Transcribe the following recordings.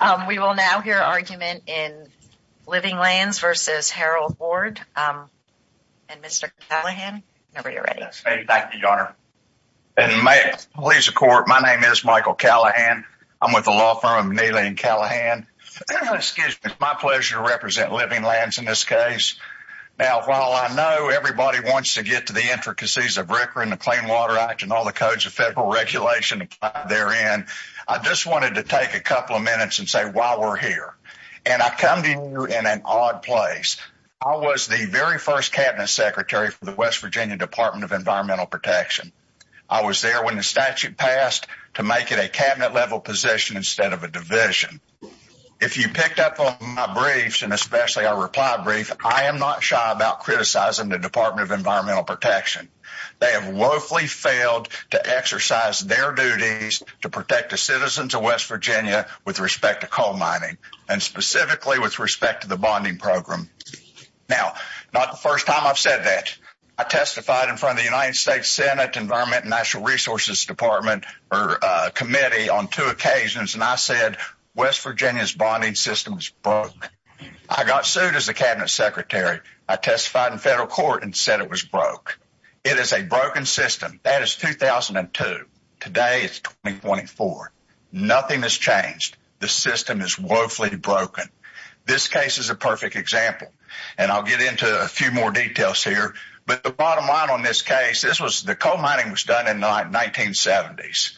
and Mr. Callaghan, whenever you're ready. Thank you, Your Honor. My name is Michael Callaghan. I'm with the law firm of Neely & Callaghan. It's my pleasure to represent Living Lands in this case. Now, while I know everybody wants to get to the intricacies of RCRA and the Clean Water Act and all the codes of federal regulation that they're in, I just wanted to take a couple of minutes and say why we're here. And I come to you in an odd place. I was the very first Cabinet Secretary for the West Virginia Department of Environmental Protection. I was there when the statute passed to make it a Cabinet-level position instead of a division. If you picked up on my briefs, and especially our reply brief, I am not shy about criticizing the Department of Environmental Protection. They have woefully failed to exercise their duties to protect the citizens of West Virginia with respect to coal mining, and specifically with respect to the bonding program. Now, not the first time I've said that. I testified in front of the United States Senate Environmental Resources Committee on two occasions, and I said West Virginia's bonding system is broke. I got sued as the Cabinet Secretary. I testified in federal court and said it was broke. It is a broken system. That is 2002. Today is 2024. Nothing has changed. The system is woefully broken. This case is a perfect example, and I'll get into a few more details here. But the bottom line on this case, the coal mining was done in the 1970s.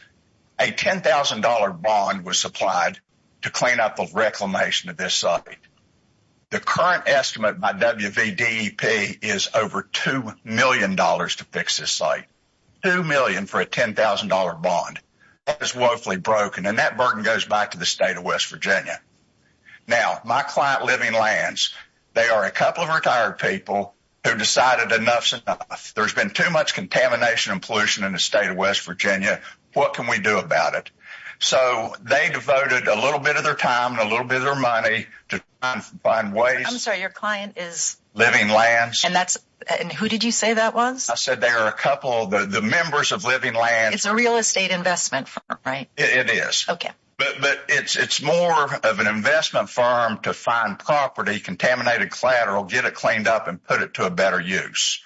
A $10,000 bond was supplied to clean up the reclamation of this site. The current estimate by WVDEP is over $2 million to fix this site. $2 million for a $10,000 bond. That is woefully broken, and that burden goes back to the state of West Virginia. Now, my client Living Lands, they are a couple of retired people who decided enough is enough. There's been too much contamination and pollution in the state of West Virginia. What can we do about it? So they devoted a little bit of their time and a little bit of their money to find ways. I'm sorry, your client is? Living Lands. And who did you say that was? I said there are a couple of the members of Living Lands. It's a real estate investment firm, right? It is. Okay. But it's more of an investment firm to find property contaminated collateral, get it cleaned up, and put it to a better use.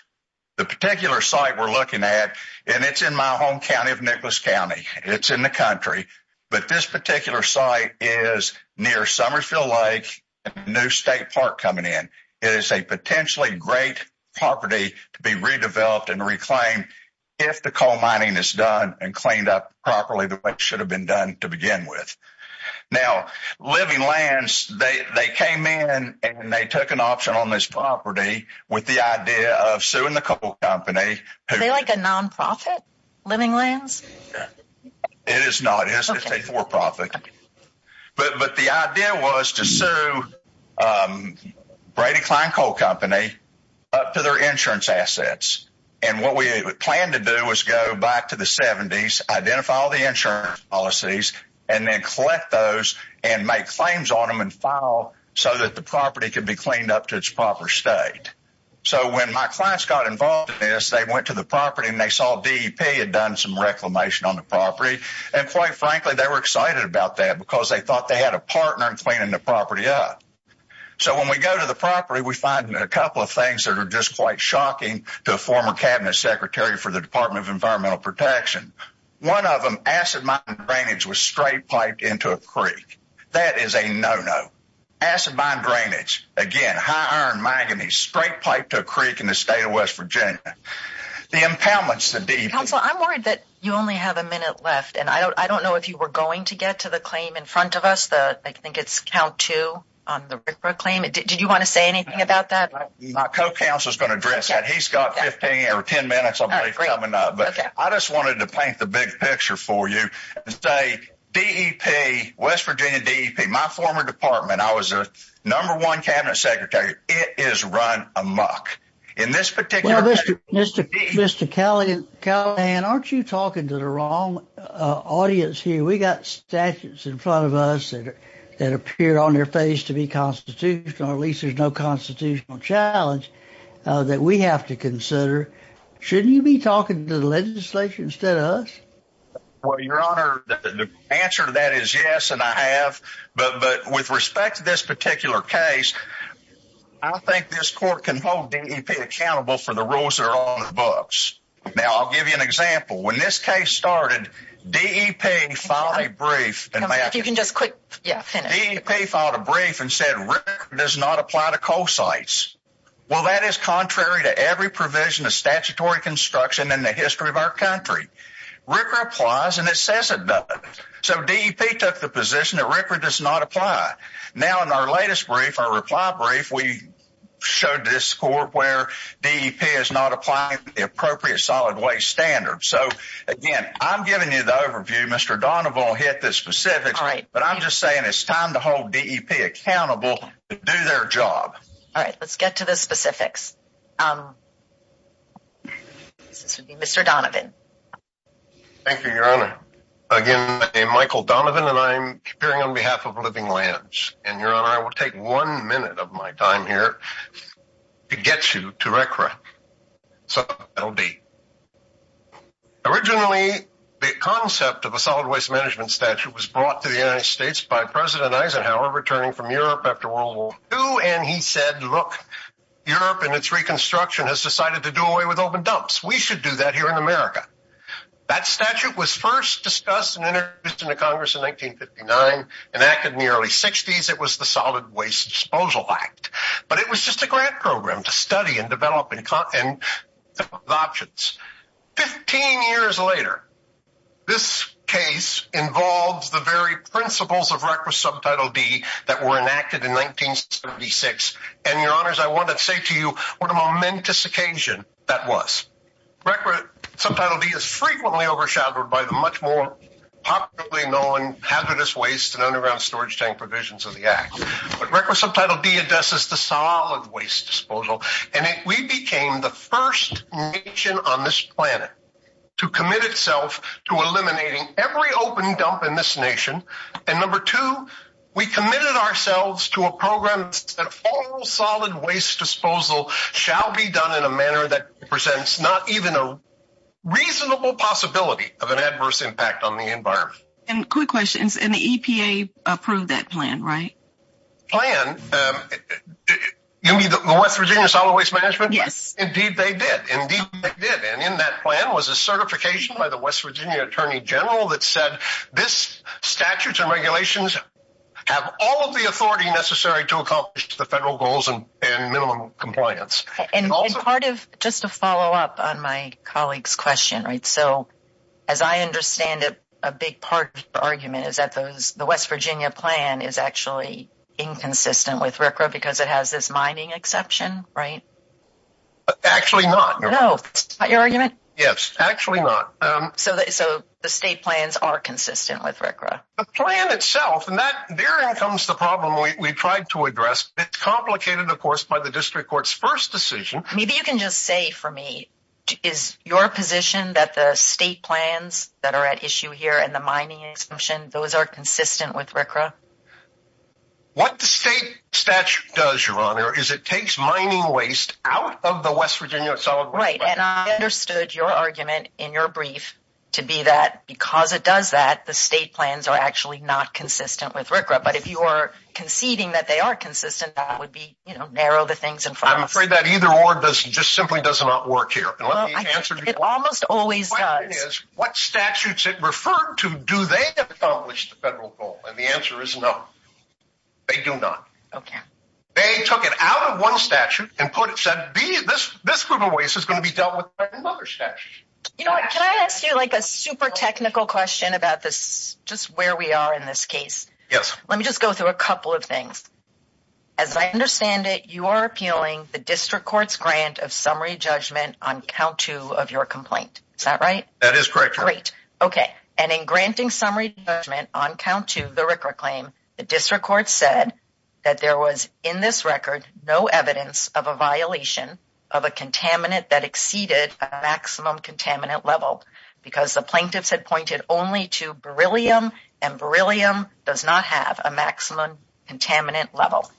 The particular site we're looking at, and it's in my home county of Nicholas County. It's in the country. But this particular site is near Summersville Lake, a new state park coming in. It is a potentially great property to be redeveloped and reclaimed if the coal mining is done and cleaned up properly the way it should have been done to begin with. Now, Living Lands, they came in and they took an option on this property with the idea of suing the coal company. Are they like a nonprofit, Living Lands? It is not. It's a for-profit. But the idea was to sue Brady Klein Coal Company up to their insurance assets. And what we planned to do was go back to the 70s, identify all the insurance policies, and then collect those and make claims on them and file so that the property could be cleaned up to its proper state. So when my clients got involved in this, they went to the property and they saw DEP had done some reclamation on the property. And quite frankly, they were excited about that because they thought they had a partner in cleaning the property up. So when we go to the property, we find a couple of things that are just quite shocking to a former cabinet secretary for the Department of Environmental Protection. One of them, acid mine drainage was straight piped into a creek. That is a no-no. Acid mine drainage, again, high iron manganese, straight piped to a creek in the state of West Virginia. The impoundments to DEP. Counsel, I'm worried that you only have a minute left. And I don't know if you were going to get to the claim in front of us, I think it's count two on the RCRA claim. Did you want to say anything about that? My co-counsel is going to address that. He's got 15 or 10 minutes, I believe, coming up. But I just wanted to paint the big picture for you and say DEP, West Virginia DEP, my former department, I was a number one cabinet secretary. It is run amok. Mr. Callahan, aren't you talking to the wrong audience here? We've got statutes in front of us that appear on their face to be constitutional. At least there's no constitutional challenge that we have to consider. Shouldn't you be talking to the legislature instead of us? Well, Your Honor, the answer to that is yes, and I have. But with respect to this particular case, I think this court can hold DEP accountable for the rules that are on the books. Now, I'll give you an example. When this case started, DEP filed a brief and said RCRA does not apply to coal sites. Well, that is contrary to every provision of statutory construction in the history of our country. RCRA applies and it says it does. So DEP took the position that RCRA does not apply. Now, in our latest brief, our reply brief, we showed this court where DEP is not applying the appropriate solid waste standards. So, again, I'm giving you the overview. Mr. Donovan will hit the specifics. All right. But I'm just saying it's time to hold DEP accountable to do their job. All right. Let's get to the specifics. This would be Mr. Donovan. Thank you, Your Honor. Again, my name is Michael Donovan, and I'm appearing on behalf of Living Lands. And, Your Honor, I will take one minute of my time here to get you to RCRA. So that will be. Originally, the concept of a solid waste management statute was brought to the United States by President Eisenhower returning from Europe after World War II. And he said, look, Europe and its reconstruction has decided to do away with open dumps. We should do that here in America. That statute was first discussed and introduced into Congress in 1959, enacted in the early 60s. It was the Solid Waste Disposal Act. But it was just a grant program to study and develop and come up with options. Fifteen years later, this case involves the very principles of RCRA Subtitle D that were enacted in 1976. And, Your Honors, I want to say to you what a momentous occasion that was. RCRA Subtitle D is frequently overshadowed by the much more popularly known hazardous waste and underground storage tank provisions of the act. But RCRA Subtitle D addresses the solid waste disposal. And we became the first nation on this planet to commit itself to eliminating every open dump in this nation. And number two, we committed ourselves to a program that all solid waste disposal shall be done in a manner that presents not even a reasonable possibility of an adverse impact on the environment. And quick questions. And the EPA approved that plan, right? Plan? You mean the West Virginia Solid Waste Management? Yes. Indeed they did. Indeed they did. And in that plan was a certification by the West Virginia Attorney General that said this statute and regulations have all of the authority necessary to accomplish the federal goals and minimum compliance. And part of, just to follow up on my colleague's question, right? So, as I understand it, a big part of the argument is that the West Virginia plan is actually inconsistent with RCRA because it has this mining exception, right? Actually not. No. That's not your argument? Yes. Actually not. So the state plans are consistent with RCRA? The plan itself, and therein comes the problem we tried to address. It's complicated, of course, by the district court's first decision. Maybe you can just say for me, is your position that the state plans that are at issue here and the mining exemption, those are consistent with RCRA? What the state statute does, Your Honor, is it takes mining waste out of the West Virginia Solid Waste Management. Right, and I understood your argument in your brief to be that because it does that, the state plans are actually not consistent with RCRA. But if you are conceding that they are consistent, that would be, you know, narrow the things in front of us. I'm afraid that either or just simply does not work here. It almost always does. The question is, what statutes it referred to, do they accomplish the federal goal? And the answer is no. They do not. Okay. They took it out of one statute and put it, said, this group of waste is going to be dealt with by another statute. You know what, can I ask you like a super technical question about this, just where we are in this case? Yes. Let me just go through a couple of things. As I understand it, you are appealing the district court's grant of summary judgment on count two of your complaint. Is that right? That is correct. Great. Okay. And in granting summary judgment on count two of the RCRA claim, the district court said that there was, in this record, no evidence of a violation of a contaminant that exceeded a maximum contaminant level because the plaintiffs had pointed only to beryllium, and beryllium does not have a maximum contaminant level.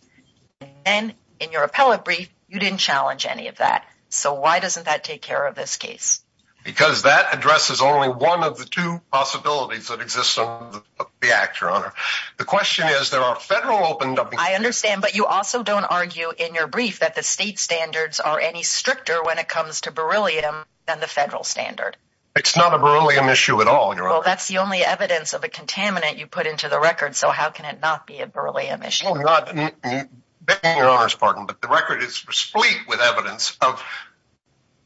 And in your appellate brief, you didn't challenge any of that. So why doesn't that take care of this case? Because that addresses only one of the two possibilities that exist under the act, Your Honor. The question is, there are federal open- I understand, but you also don't argue in your brief that the state standards are any stricter when it comes to beryllium than the federal standard. It's not a beryllium issue at all, Your Honor. Well, that's the only evidence of a contaminant you put into the record, so how can it not be a beryllium issue? Beg your Honor's pardon, but the record is spleet with evidence of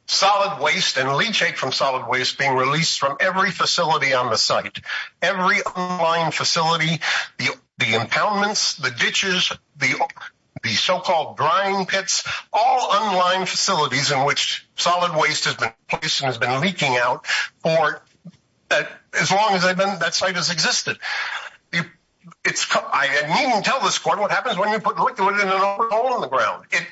solid waste and leachate from solid waste being released from every facility on the site. Every online facility, the impoundments, the ditches, the so-called drying pits, all online facilities in which solid waste has been placed and has been leaking out for as long as that site has existed. I needn't tell this Court what happens when you put liquid in an overhaul on the ground. It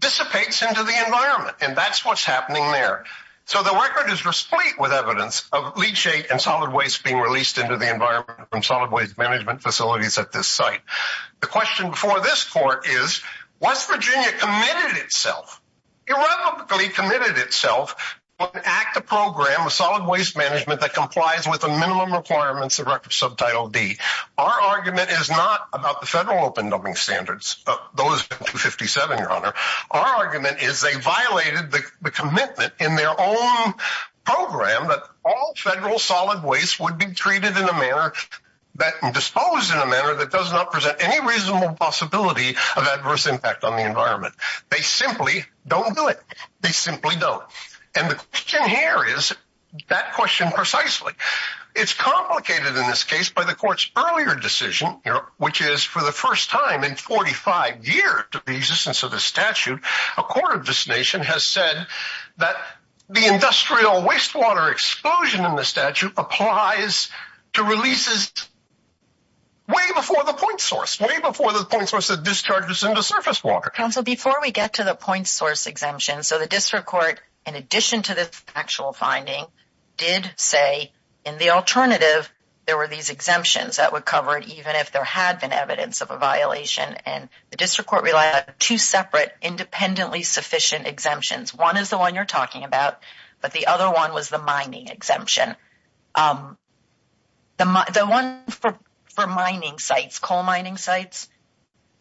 dissipates into the environment, and that's what's happening there. So the record is spleet with evidence of leachate and solid waste being released into the environment from solid waste management facilities at this site. The question before this Court is, West Virginia committed itself, irrevocably committed itself, to enact a program of solid waste management that complies with the minimum requirements of Record Subtitle D. Our argument is not about the federal open dumping standards of those in 257, Your Honor. Our argument is they violated the commitment in their own program that all federal solid waste would be treated in a manner, disposed in a manner that does not present any reasonable possibility of adverse impact on the environment. They simply don't do it. They simply don't. And the question here is that question precisely. It's complicated in this case by the Court's earlier decision, which is for the first time in 45 years, and so the statute, according to this nation, has said that the industrial wastewater exclusion in the statute applies to releases way before the point source, way before the point source that discharges into surface water. Your Honor, before we get to the point source exemption, so the District Court, in addition to this actual finding, did say in the alternative there were these exemptions that would cover it even if there had been evidence of a violation, and the District Court relied on two separate independently sufficient exemptions. One is the one you're talking about, but the other one was the mining exemption. The one for mining sites, coal mining sites.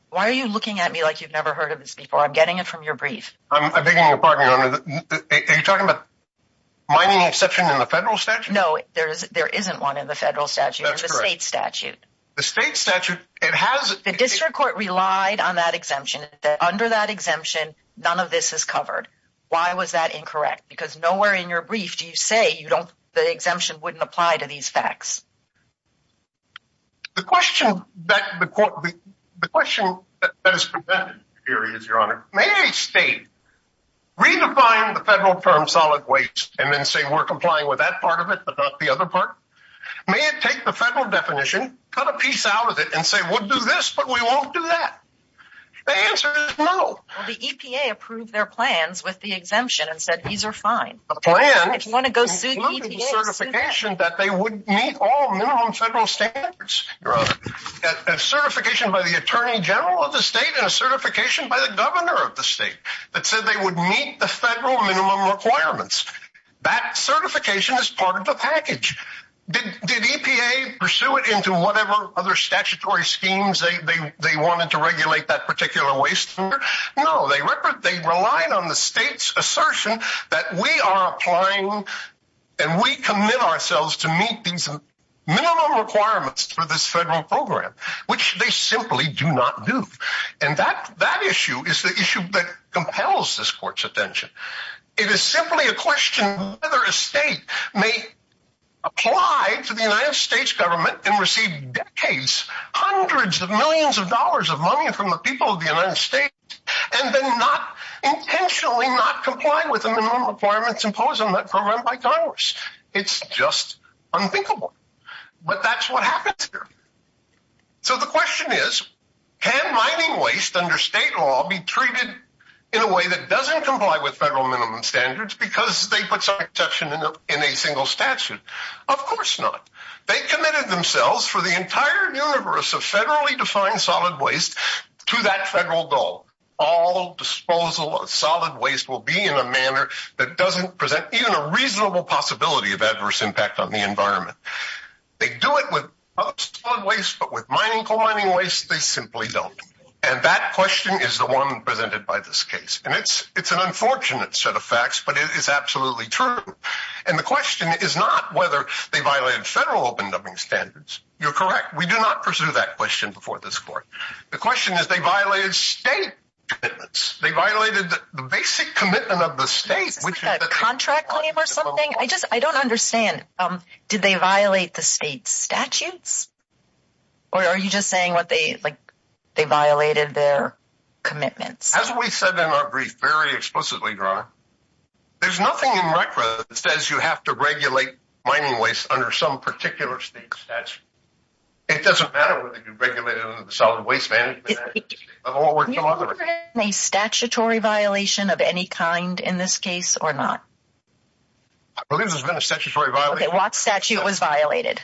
Why are you looking at me like you've never heard of this before? I'm getting it from your brief. I beg your pardon, Your Honor. Are you talking about mining exception in the federal statute? No, there isn't one in the federal statute. That's correct. There's a state statute. The state statute, it has – The District Court relied on that exemption. Under that exemption, none of this is covered. Why was that incorrect? Because nowhere in your brief do you say the exemption wouldn't apply to these facts. The question that is presented here is, Your Honor, may a state redefine the federal term solid waste and then say we're complying with that part of it but not the other part? May it take the federal definition, cut a piece out of it, and say we'll do this but we won't do that? The answer is no. Well, the EPA approved their plans with the exemption and said these are fine. A plan? If you want to go sue the EPA, sue them. The plan included certification that they would meet all minimum federal standards, Your Honor. A certification by the Attorney General of the state and a certification by the governor of the state that said they would meet the federal minimum requirements. That certification is part of the package. Did EPA pursue it into whatever other statutory schemes they wanted to regulate that particular waste? No. They relied on the state's assertion that we are applying and we commit ourselves to meet these minimum requirements for this federal program, which they simply do not do. And that issue is the issue that compels this court's attention. It is simply a question of whether a state may apply to the United States government and receive decades, hundreds of millions of dollars of money from the people of the United States and then not intentionally not comply with the minimum requirements imposed on that program by Congress. It's just unthinkable. But that's what happens here. So the question is, can mining waste under state law be treated in a way that doesn't comply with federal minimum standards because they put some exception in a single statute? Of course not. They committed themselves for the entire universe of federally defined solid waste to that federal goal. All disposal of solid waste will be in a manner that doesn't present even a reasonable possibility of adverse impact on the environment. They do it with other solid waste, but with mining, coal mining waste, they simply don't. And that question is the one presented by this case. And it's an unfortunate set of facts, but it is absolutely true. And the question is not whether they violated federal open dubbing standards. You're correct. We do not pursue that question before this court. The question is they violated state commitments. They violated the basic commitment of the state. Is this like a contract claim or something? I don't understand. Did they violate the state statutes? Or are you just saying they violated their commitments? As we said in our brief very explicitly, Your Honor, there's nothing in record that says you have to regulate mining waste under some particular state statute. It doesn't matter whether you regulate it under the Solid Waste Management Act. Have you ever had a statutory violation of any kind in this case or not? I believe there's been a statutory violation. Okay, what statute was violated?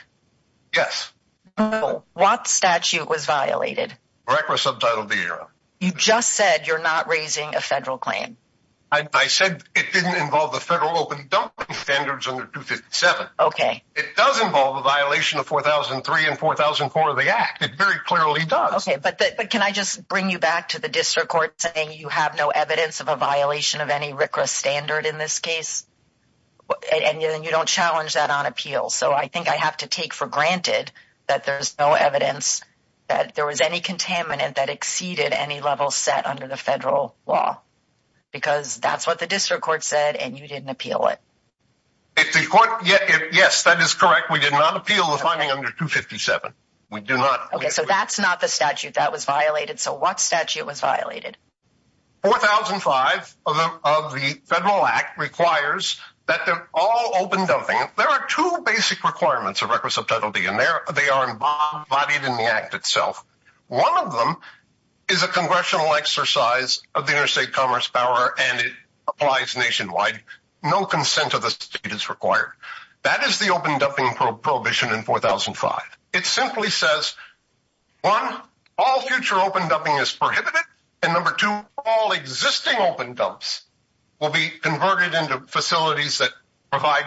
What statute was violated? BRCRA subtitled the error. You just said you're not raising a federal claim. I said it didn't involve the federal open dubbing standards under 257. Okay. It does involve a violation of 4003 and 4004 of the Act. It very clearly does. Okay, but can I just bring you back to the district court saying you have no evidence of a violation of any RCRA standard in this case? And you don't challenge that on appeal. So I think I have to take for granted that there's no evidence that there was any contaminant that exceeded any level set under the federal law. Because that's what the district court said, and you didn't appeal it. Yes, that is correct. We did not appeal the finding under 257. We do not. Okay, so that's not the statute that was violated. So what statute was violated? 4005 of the Federal Act requires that they're all open dubbing. There are two basic requirements of RCRA subtitled the error. They are embodied in the Act itself. One of them is a congressional exercise of the interstate commerce power, and it applies nationwide. No consent of the state is required. That is the open dubbing prohibition in 4005. It simply says, one, all future open dubbing is prohibited, and number two, all existing open dubs will be converted into facilities that provide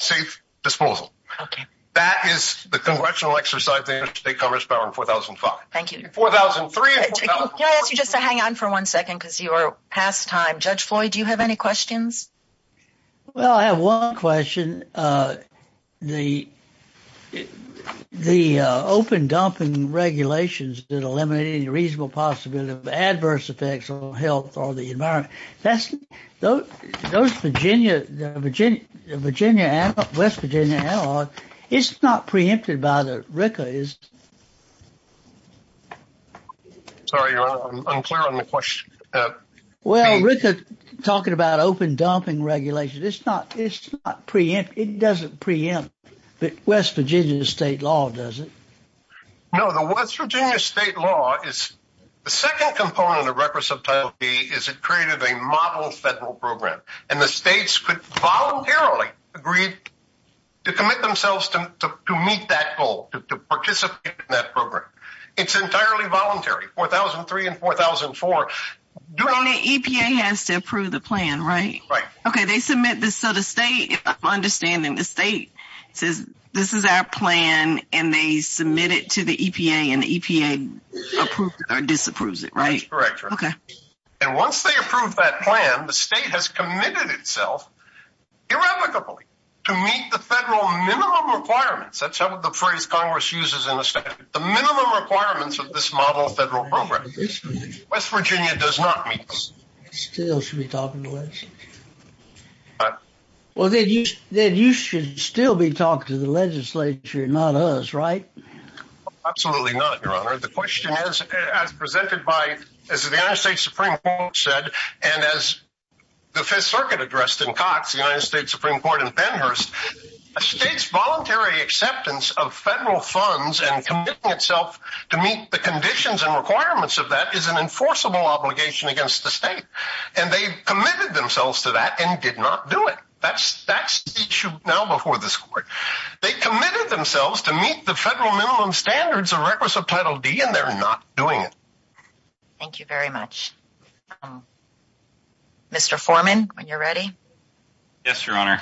safe disposal. Okay. That is the congressional exercise of the interstate commerce power in 4005. Thank you. Can I ask you just to hang on for one second because you are past time? Judge Floyd, do you have any questions? Well, I have one question. The open dubbing regulations that eliminate any reasonable possibility of adverse effects on health or the environment, those Virginia and West Virginia analogs, it's not preempted by the RCRA, is it? Sorry, Your Honor, I'm unclear on the question. Well, Rick is talking about open dubbing regulations. It's not preempted. It doesn't preempt the West Virginia state law, does it? No, the West Virginia state law is the second component of RCRA subtitle B is it created a model federal program, and the states could voluntarily agree to commit themselves to meet that goal, to participate in that program. It's entirely voluntary. 4003 and 4004. EPA has to approve the plan, right? Right. Okay. They submit this so the state, understanding the state says this is our plan, and they submit it to the EPA, and the EPA approves it or disapproves it, right? That's correct, Your Honor. Okay. And once they approve that plan, the state has committed itself irrevocably to meet the federal minimum requirements. That's the phrase Congress uses in the state, the minimum requirements of this model federal program. West Virginia does not meet those. Still should be talking to us. Well, then you should still be talking to the legislature, not us, right? Absolutely not, Your Honor. The question is, as presented by, as the United States Supreme Court said, and as the Fifth Circuit addressed in Cox, the United States Supreme Court, and Pennhurst, a state's voluntary acceptance of federal funds and committing itself to meet the conditions and requirements of that is an enforceable obligation against the state. And they committed themselves to that and did not do it. That's the issue now before this court. They committed themselves to meet the federal minimum standards of Title D, and they're not doing it. Thank you very much. Mr. Foreman, when you're ready. Yes, Your Honor.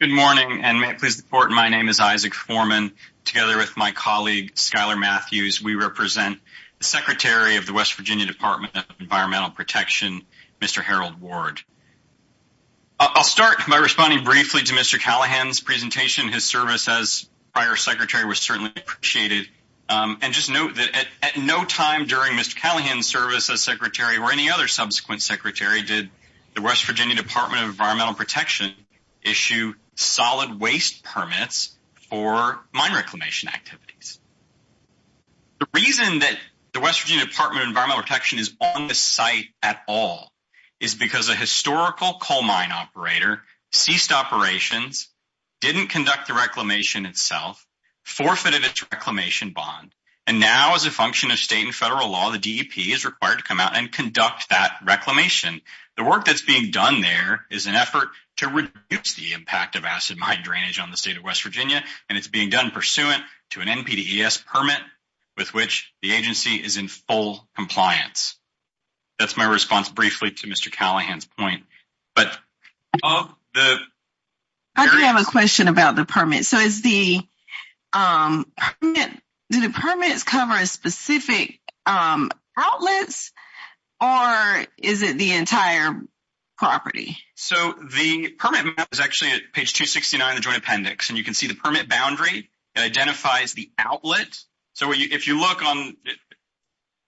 Good morning, and may it please the Court, my name is Isaac Foreman. And together with my colleague, Skylar Matthews, we represent the Secretary of the West Virginia Department of Environmental Protection, Mr. Harold Ward. I'll start by responding briefly to Mr. Callahan's presentation. His service as prior secretary was certainly appreciated. And just note that at no time during Mr. Callahan's service as secretary or any other subsequent secretary did the West Virginia Department of Environmental Protection issue solid waste permits for mine reclamation activities. The reason that the West Virginia Department of Environmental Protection is on the site at all is because a historical coal mine operator ceased operations, didn't conduct the reclamation itself, forfeited its reclamation bond. And now as a function of state and federal law, the DEP is required to come out and conduct that reclamation. The work that's being done there is an effort to reduce the impact of acid mine drainage on the state of West Virginia. And it's being done pursuant to an NPDES permit with which the agency is in full compliance. That's my response briefly to Mr. Callahan's point. I do have a question about the permit. So do the permits cover specific outlets or is it the entire property? So the permit map is actually at page 269 of the Joint Appendix. And you can see the permit boundary. It identifies the outlet. So if you look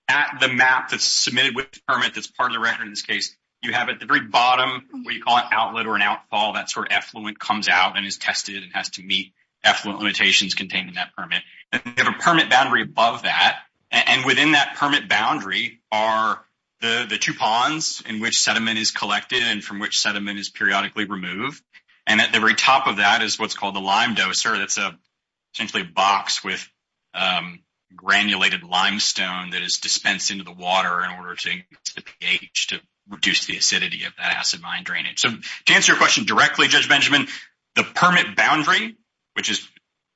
at the map that's submitted with the permit that's part of the record in this case, you have at the very bottom what you call an outlet or an outfall. That's where effluent comes out and is tested and has to meet effluent limitations contained in that permit. And you have a permit boundary above that. And within that permit boundary are the two ponds in which sediment is collected and from which sediment is periodically removed. And at the very top of that is what's called the lime doser. That's essentially a box with granulated limestone that is dispensed into the water in order to reduce the acidity of that acid mine drainage. So to answer your question directly, Judge Benjamin, the permit boundary, which is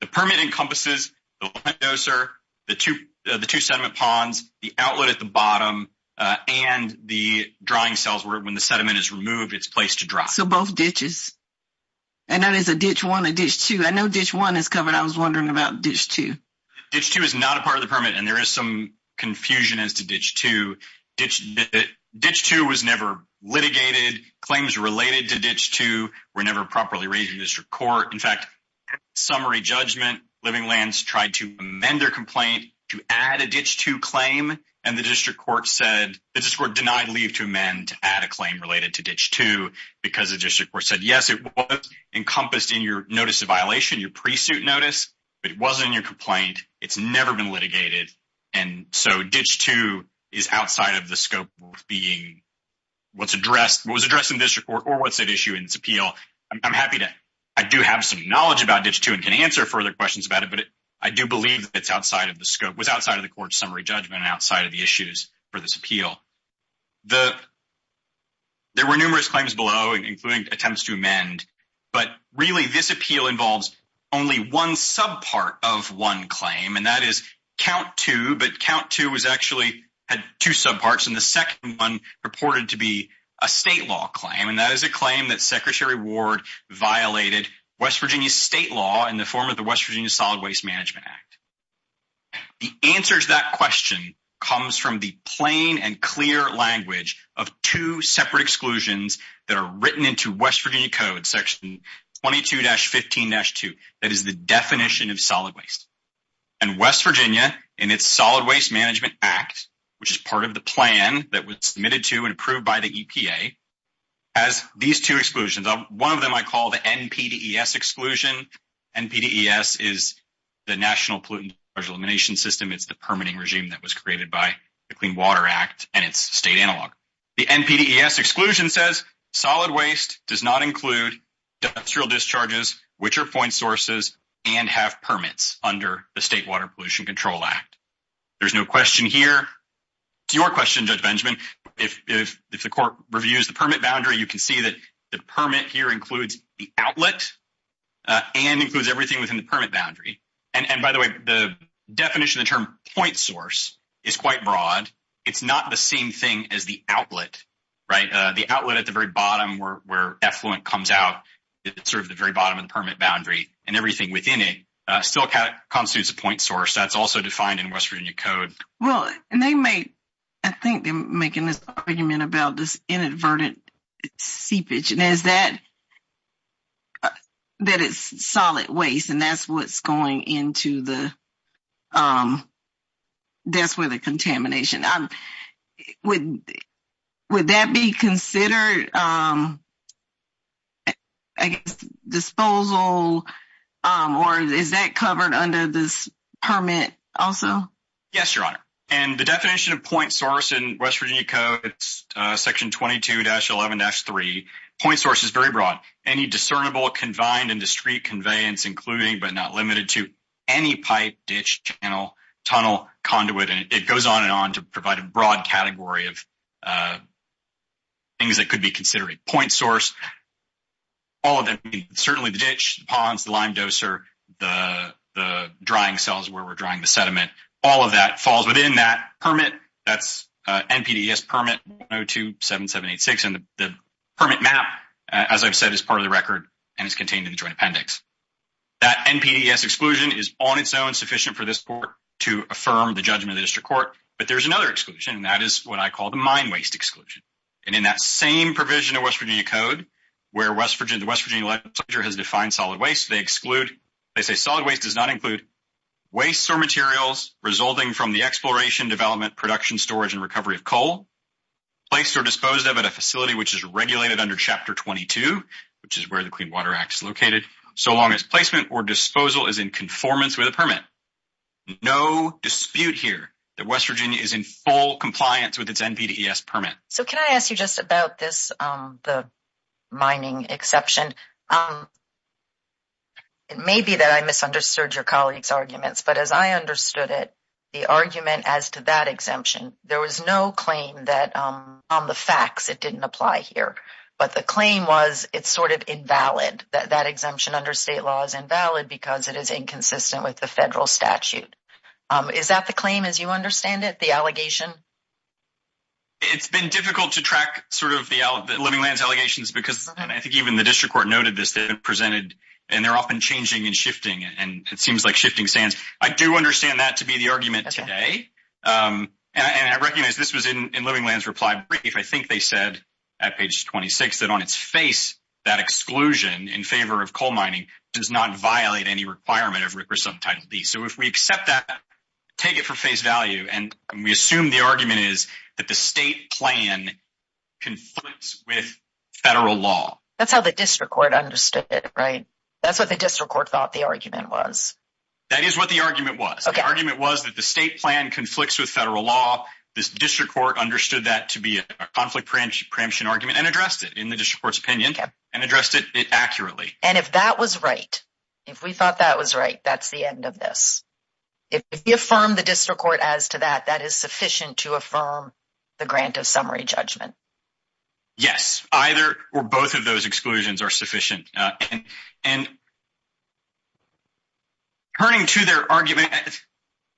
the permit encompasses the lime doser, the two sediment ponds, the outlet at the bottom, and the drying cells where when the sediment is removed, it's placed to dry. So both ditches. And that is a ditch one, a ditch two. I know ditch one is covered. I was wondering about ditch two. Ditch two is not a part of the permit, and there is some confusion as to ditch two. Ditch two was never litigated. Claims related to ditch two were never properly raised in district court. In fact, at summary judgment, Living Lands tried to amend their complaint to add a ditch two claim. And the district court said the district court denied leave to amend to add a claim related to ditch two because the district court said, yes, it was encompassed in your notice of violation, your pre-suit notice, but it wasn't in your complaint. It's never been litigated. And so ditch two is outside of the scope of being what's addressed, what was addressed in district court, or what's at issue in its appeal. I'm happy to – I do have some knowledge about ditch two and can answer further questions about it, but I do believe that it's outside of the scope, was outside of the court's summary judgment and outside of the issues for this appeal. There were numerous claims below, including attempts to amend, but really this appeal involves only one subpart of one claim, and that is count two. But count two was actually – had two subparts, and the second one purported to be a state law claim. And that is a claim that Secretary Ward violated West Virginia state law in the form of the West Virginia Solid Waste Management Act. The answer to that question comes from the plain and clear language of two separate exclusions that are written into West Virginia Code, section 22-15-2. That is the definition of solid waste. And West Virginia, in its Solid Waste Management Act, which is part of the plan that was submitted to and approved by the EPA, has these two exclusions. One of them I call the NPDES exclusion. NPDES is the National Pollutant Discharge Elimination System. It's the permitting regime that was created by the Clean Water Act, and it's state analog. The NPDES exclusion says solid waste does not include industrial discharges, which are point sources, and have permits under the State Water Pollution Control Act. There's no question here. It's your question, Judge Benjamin. If the court reviews the permit boundary, you can see that the permit here includes the outlet and includes everything within the permit boundary. And by the way, the definition of the term point source is quite broad. It's not the same thing as the outlet, right? The outlet at the very bottom where effluent comes out, it's sort of the very bottom of the permit boundary, and everything within it still constitutes a point source. That's also defined in West Virginia Code. I think they're making this argument about this inadvertent seepage, and that it's solid waste, and that's what's going into the contamination. Would that be considered, I guess, disposal, or is that covered under this permit also? Yes, Your Honor. And the definition of point source in West Virginia Code, it's section 22-11-3. Point source is very broad. Any discernible, confined, and discrete conveyance including but not limited to any pipe, ditch, channel, tunnel, conduit, and it goes on and on to provide a broad category of things that could be considered a point source. All of them, certainly the ditch, the ponds, the lime doser, the drying cells where we're drying the sediment, all of that falls within that permit. That's NPDES permit 1027786, and the permit map, as I've said, is part of the record, and it's contained in the joint appendix. That NPDES exclusion is on its own sufficient for this court to affirm the judgment of the district court, but there's another exclusion, and that is what I call the mine waste exclusion. And in that same provision of West Virginia Code, where the West Virginia legislature has defined solid waste, they say solid waste does not include wastes or materials resulting from the exploration, development, production, storage, and recovery of coal placed or disposed of at a facility which is regulated under Chapter 22, which is where the Clean Water Act is located, so long as placement or disposal is in conformance with a permit. No dispute here that West Virginia is in full compliance with its NPDES permit. So can I ask you just about this, the mining exception? It may be that I misunderstood your colleagues' arguments, but as I understood it, the argument as to that exemption, there was no claim that on the facts it didn't apply here. But the claim was it's sort of invalid, that that exemption under state law is invalid because it is inconsistent with the federal statute. Is that the claim as you understand it, the allegation? It's been difficult to track sort of the Living Lands allegations because I think even the district court noted this, they've been presented, and they're often changing and shifting, and it seems like shifting sands. I do understand that to be the argument today, and I recognize this was in Living Lands' reply brief. I think they said at page 26 that on its face, that exclusion in favor of coal mining does not violate any requirement of RCRA subtitle D. So if we accept that, take it for face value, and we assume the argument is that the state plan conflicts with federal law. That's how the district court understood it, right? That's what the district court thought the argument was. That is what the argument was. The argument was that the state plan conflicts with federal law. The district court understood that to be a conflict preemption argument and addressed it in the district court's opinion and addressed it accurately. And if that was right, if we thought that was right, that's the end of this. If you affirm the district court as to that, that is sufficient to affirm the grant of summary judgment. Yes, either or both of those exclusions are sufficient. And turning to their argument,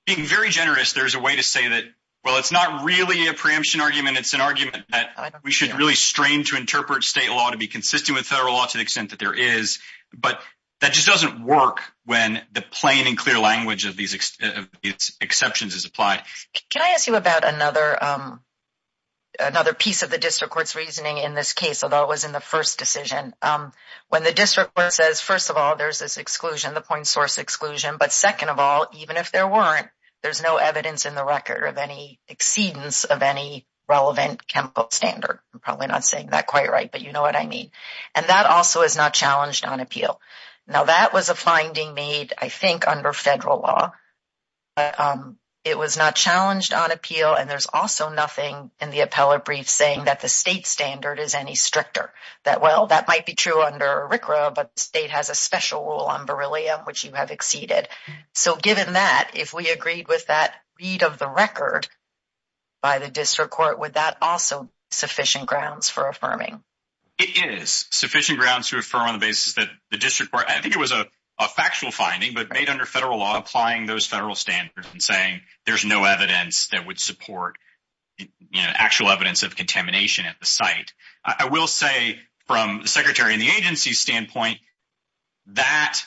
being very generous, there's a way to say that, well, it's not really a preemption argument. It's an argument that we should really strain to interpret state law to be consistent with federal law to the extent that there is. But that just doesn't work when the plain and clear language of these exceptions is applied. Can I ask you about another piece of the district court's reasoning in this case, although it was in the first decision? When the district court says, first of all, there's this exclusion, the point source exclusion. But second of all, even if there weren't, there's no evidence in the record of any exceedance of any relevant chemical standard. I'm probably not saying that quite right, but you know what I mean. And that also is not challenged on appeal. Now, that was a finding made, I think, under federal law. It was not challenged on appeal. And there's also nothing in the appellate brief saying that the state standard is any stricter. That, well, that might be true under RCRA, but the state has a special rule on beryllium, which you have exceeded. So given that, if we agreed with that read of the record by the district court, would that also be sufficient grounds for affirming? It is sufficient grounds to affirm on the basis that the district court, I think it was a factual finding, but made under federal law applying those federal standards and saying there's no evidence that would support actual evidence of contamination at the site. I will say from the secretary and the agency's standpoint, that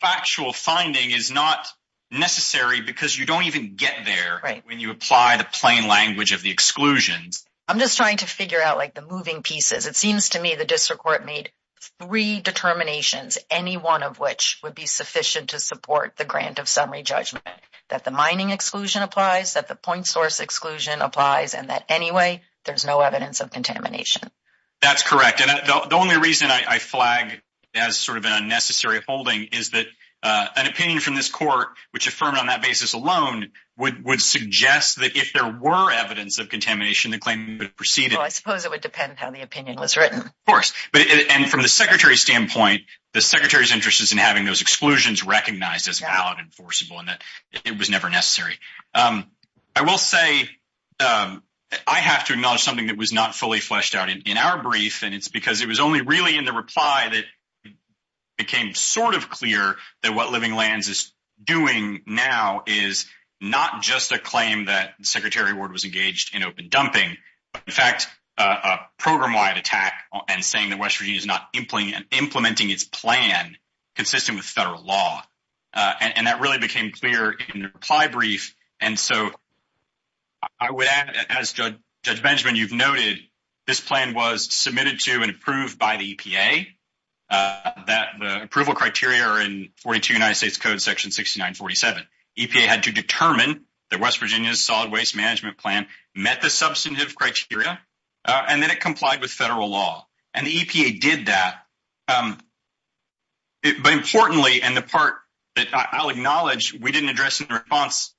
factual finding is not necessary because you don't even get there when you apply the plain language of the exclusions. I'm just trying to figure out, like, the moving pieces. It seems to me the district court made three determinations, any one of which would be sufficient to support the grant of summary judgment, that the mining exclusion applies, that the point source exclusion applies, and that anyway, there's no evidence of contamination. That's correct. And the only reason I flag as sort of an unnecessary holding is that an opinion from this court, which affirmed on that basis alone, would suggest that if there were evidence of contamination, the claim would proceed. I suppose it would depend how the opinion was written. Of course. And from the secretary's standpoint, the secretary's interest is in having those exclusions recognized as valid and enforceable and that it was never necessary. I will say I have to acknowledge something that was not fully fleshed out in our brief, and it's because it was only really in the reply that it became sort of clear that what Living Lands is doing now is not just a claim that Secretary Ward was engaged in open dumping, but in fact, a program-wide attack and saying that West Virginia is not implementing its plan consistent with federal law. And that really became clear in the reply brief. And so I would add, as Judge Benjamin, you've noted, this plan was submitted to and approved by the EPA, that the approval criteria are in 42 United States Code section 6947. EPA had to determine that West Virginia's solid waste management plan met the substantive criteria, and then it complied with federal law. And the EPA did that. But importantly, and the part that I'll acknowledge we didn't address in response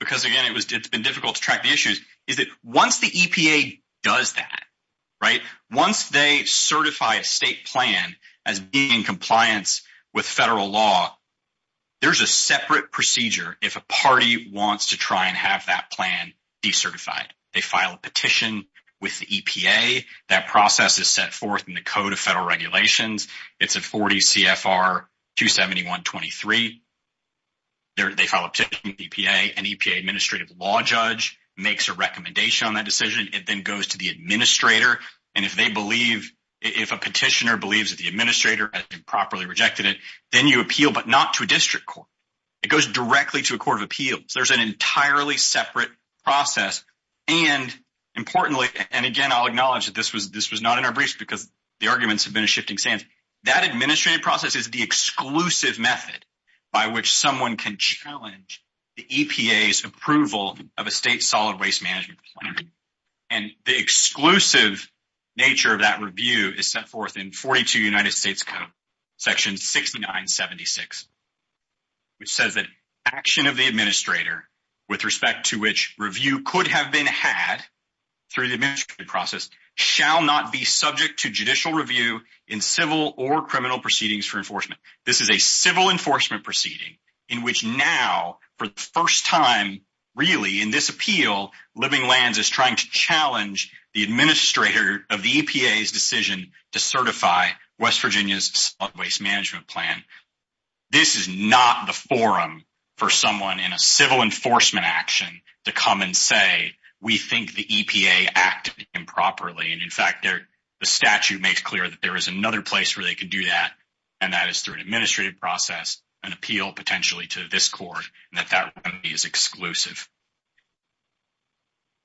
because, again, it's been difficult to track the issues, is that once the EPA does that, right, once they certify a state plan as being in compliance with federal law, there's a separate procedure if a party wants to try and have that plan decertified. They file a petition with the EPA. That process is set forth in the Code of Federal Regulations. It's a 40 CFR 271.23. They file a petition with EPA. An EPA administrative law judge makes a recommendation on that decision. It then goes to the administrator. And if they believe, if a petitioner believes that the administrator has improperly rejected it, then you appeal, but not to a district court. It goes directly to a court of appeals. There's an entirely separate process. And importantly, and again, I'll acknowledge that this was not in our briefs because the arguments have been a shifting stance, that administrative process is the exclusive method by which someone can challenge the EPA's approval of a state solid waste management plan. And the exclusive nature of that review is set forth in 42 United States Code section 6976, which says that action of the administrator with respect to which review could have been had through the administrative process shall not be subject to judicial review in civil or criminal proceedings for enforcement. This is a civil enforcement proceeding in which now, for the first time really in this appeal, Living Lands is trying to challenge the administrator of the EPA's decision to certify West Virginia's solid waste management plan. This is not the forum for someone in a civil enforcement action to come and say, we think the EPA acted improperly. And in fact, the statute makes clear that there is another place where they could do that, and that is through an administrative process, an appeal potentially to this court, and that that remedy is exclusive.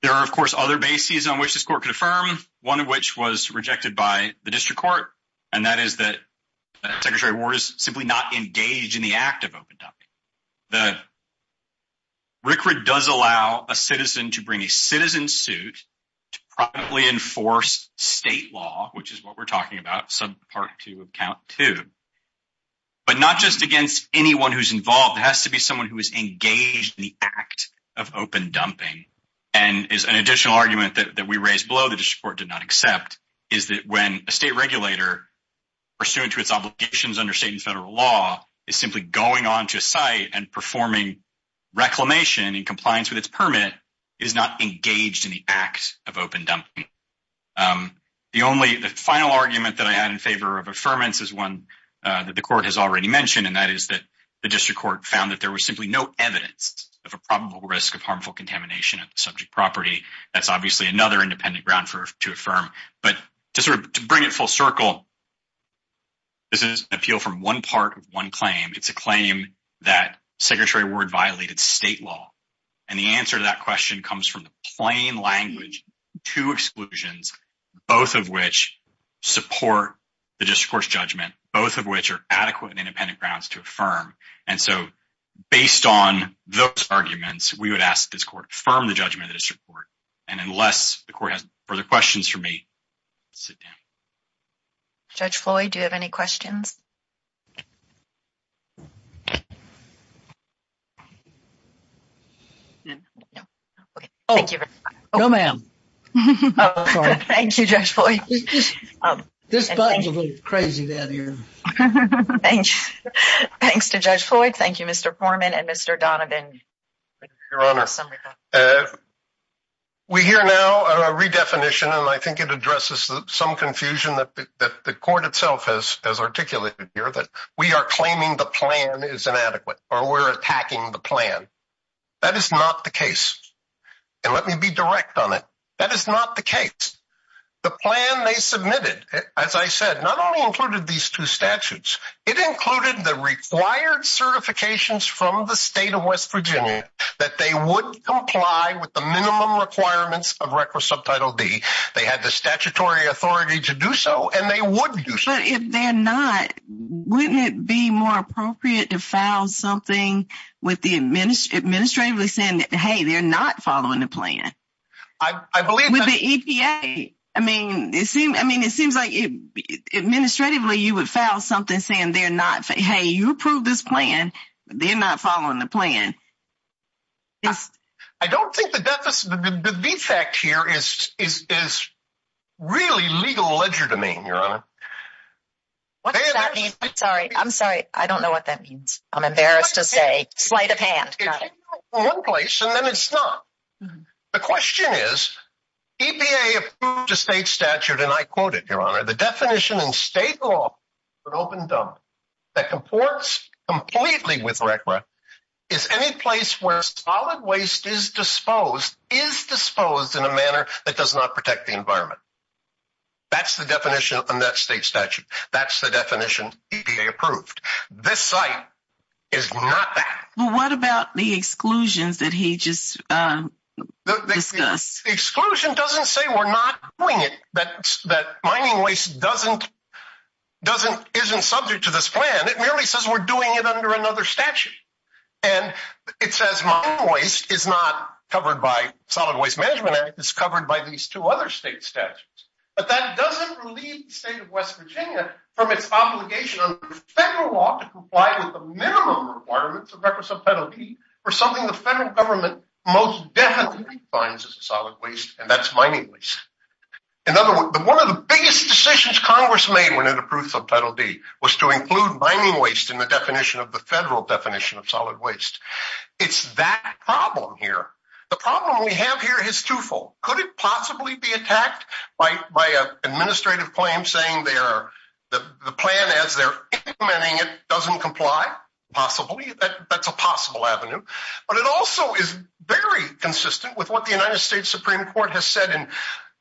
There are, of course, other bases on which this court could affirm, one of which was rejected by the district court, and that is that Secretary Ward is simply not engaged in the act of open dumping. RCRA does allow a citizen to bring a citizen suit to prominently enforce state law, which is what we're talking about, Part 2 of Count 2. But not just against anyone who's involved, it has to be someone who is engaged in the act of open dumping. And an additional argument that we raised below the district court did not accept is that when a state regulator, pursuant to its obligations under state and federal law, is simply going on to a site and performing reclamation in compliance with its permit, it is not engaged in the act of open dumping. The final argument that I had in favor of affirmance is one that the court has already mentioned, and that is that the district court found that there was simply no evidence of a probable risk of harmful contamination of the subject property. That's obviously another independent ground to affirm. But to sort of bring it full circle, this is an appeal from one part of one claim. It's a claim that Secretary Ward violated state law. And the answer to that question comes from the plain language, two exclusions, both of which support the district court's judgment, both of which are adequate and independent grounds to affirm. And so based on those arguments, we would ask this court to affirm the judgment of the district court. And unless the court has further questions for me, sit down. Judge Floyd, do you have any questions? No, ma'am. Thank you, Judge Floyd. This button's a little crazy down here. Thanks. Thanks to Judge Floyd. Thank you, Mr. Foreman and Mr. Donovan. Your Honor, we hear now a redefinition, and I think it addresses some confusion that the court itself has articulated here, that we are claiming the plan is inadequate or we're attacking the plan. That is not the case. And let me be direct on it. That is not the case. The plan they submitted, as I said, not only included these two statutes. It included the required certifications from the state of West Virginia that they would comply with the minimum requirements of Record Subtitle D. They had the statutory authority to do so, and they would do so. But if they're not, wouldn't it be more appropriate to file something with the administrator saying, hey, they're not following the plan? With the EPA? I mean, it seems like administratively you would file something saying, hey, you approved this plan, but they're not following the plan. I don't think the defect here is really legal ledger domain, Your Honor. What does that mean? I'm sorry. I don't know what that means. I'm embarrassed to say. Sleight of hand. Got it. And then it's not. The question is, EPA state statute. And I quote it, Your Honor. The definition in state law, an open dump that comports completely with record is any place where solid waste is disposed, is disposed in a manner that does not protect the environment. That's the definition of that state statute. That's the definition. They approved. This site is not. What about the exclusions that he just discussed? Exclusion doesn't say we're not doing it. But that mining waste doesn't doesn't isn't subject to this plan. It merely says we're doing it under another statute. And it says mine waste is not covered by Solid Waste Management Act. It's covered by these two other state statutes. But that doesn't relieve the state of West Virginia from its obligation on federal law to comply with the minimum requirements of records of penalty for something the federal government most definitely finds as a solid waste. And that's mining waste. In other words, one of the biggest decisions Congress made when it approved Subtitle D was to include mining waste in the definition of the federal definition of solid waste. It's that problem here. The problem we have here is twofold. Could it possibly be attacked by an administrative claim saying the plan as they're implementing it doesn't comply? Possibly. That's a possible avenue. But it also is very consistent with what the United States Supreme Court has said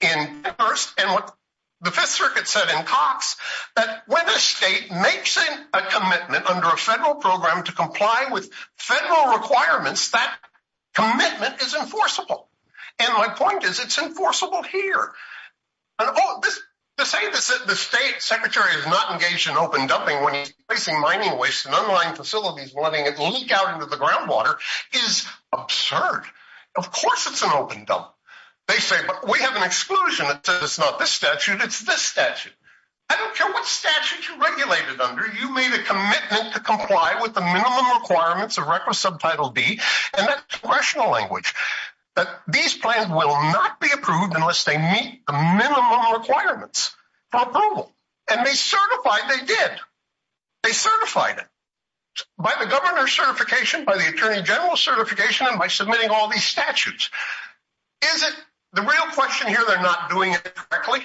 in Congress and what the Fifth Circuit said in Cox that when a state makes a commitment under a federal program to comply with federal requirements, that commitment is enforceable. And my point is it's enforceable here. To say the state secretary is not engaged in open dumping when he's placing mining waste in unlined facilities and letting it leak out into the groundwater is absurd. Of course it's an open dump. They say, but we have an exclusion. It's not this statute. It's this statute. I don't care what statute you regulate it under. You made a commitment to comply with the minimum requirements of requisite Subtitle D. And that's congressional language. These plans will not be approved unless they meet the minimum requirements for approval. And they certified they did. They certified it. By the governor's certification, by the attorney general's certification, and by submitting all these statutes. Is it the real question here they're not doing it correctly?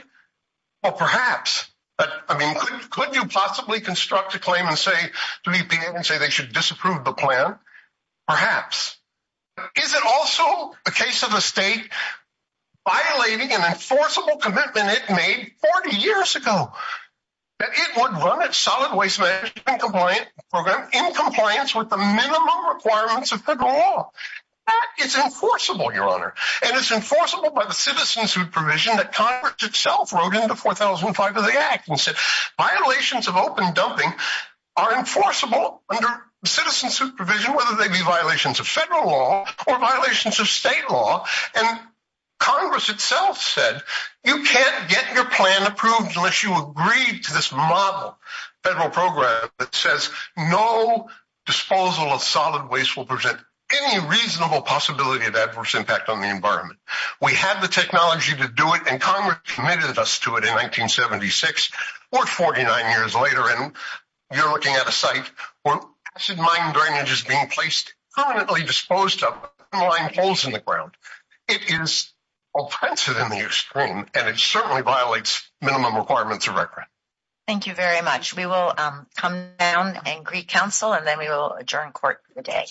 Well, perhaps. I mean, could you possibly construct a claim and say to the EPA and say they should disapprove the plan? Perhaps. Is it also a case of a state violating an enforceable commitment it made 40 years ago that it would run its solid waste management program in compliance with the minimum requirements of federal law? That is enforceable, Your Honor. And it's enforceable by the citizen supervision that Congress itself wrote into 4005 of the act and said violations of open dumping are enforceable under citizen supervision, whether they be violations of federal law or violations of state law. And Congress itself said you can't get your plan approved unless you agree to this model federal program that says no disposal of solid waste will present any reasonable possibility of adverse impact on the environment. We have the technology to do it. And Congress committed us to it in 1976 or 49 years later. And you're looking at a site where acid mine drainage is being placed permanently disposed of in the ground. It is offensive in the extreme, and it certainly violates minimum requirements of record. Thank you very much. We will come down and greet counsel, and then we will adjourn court for the day.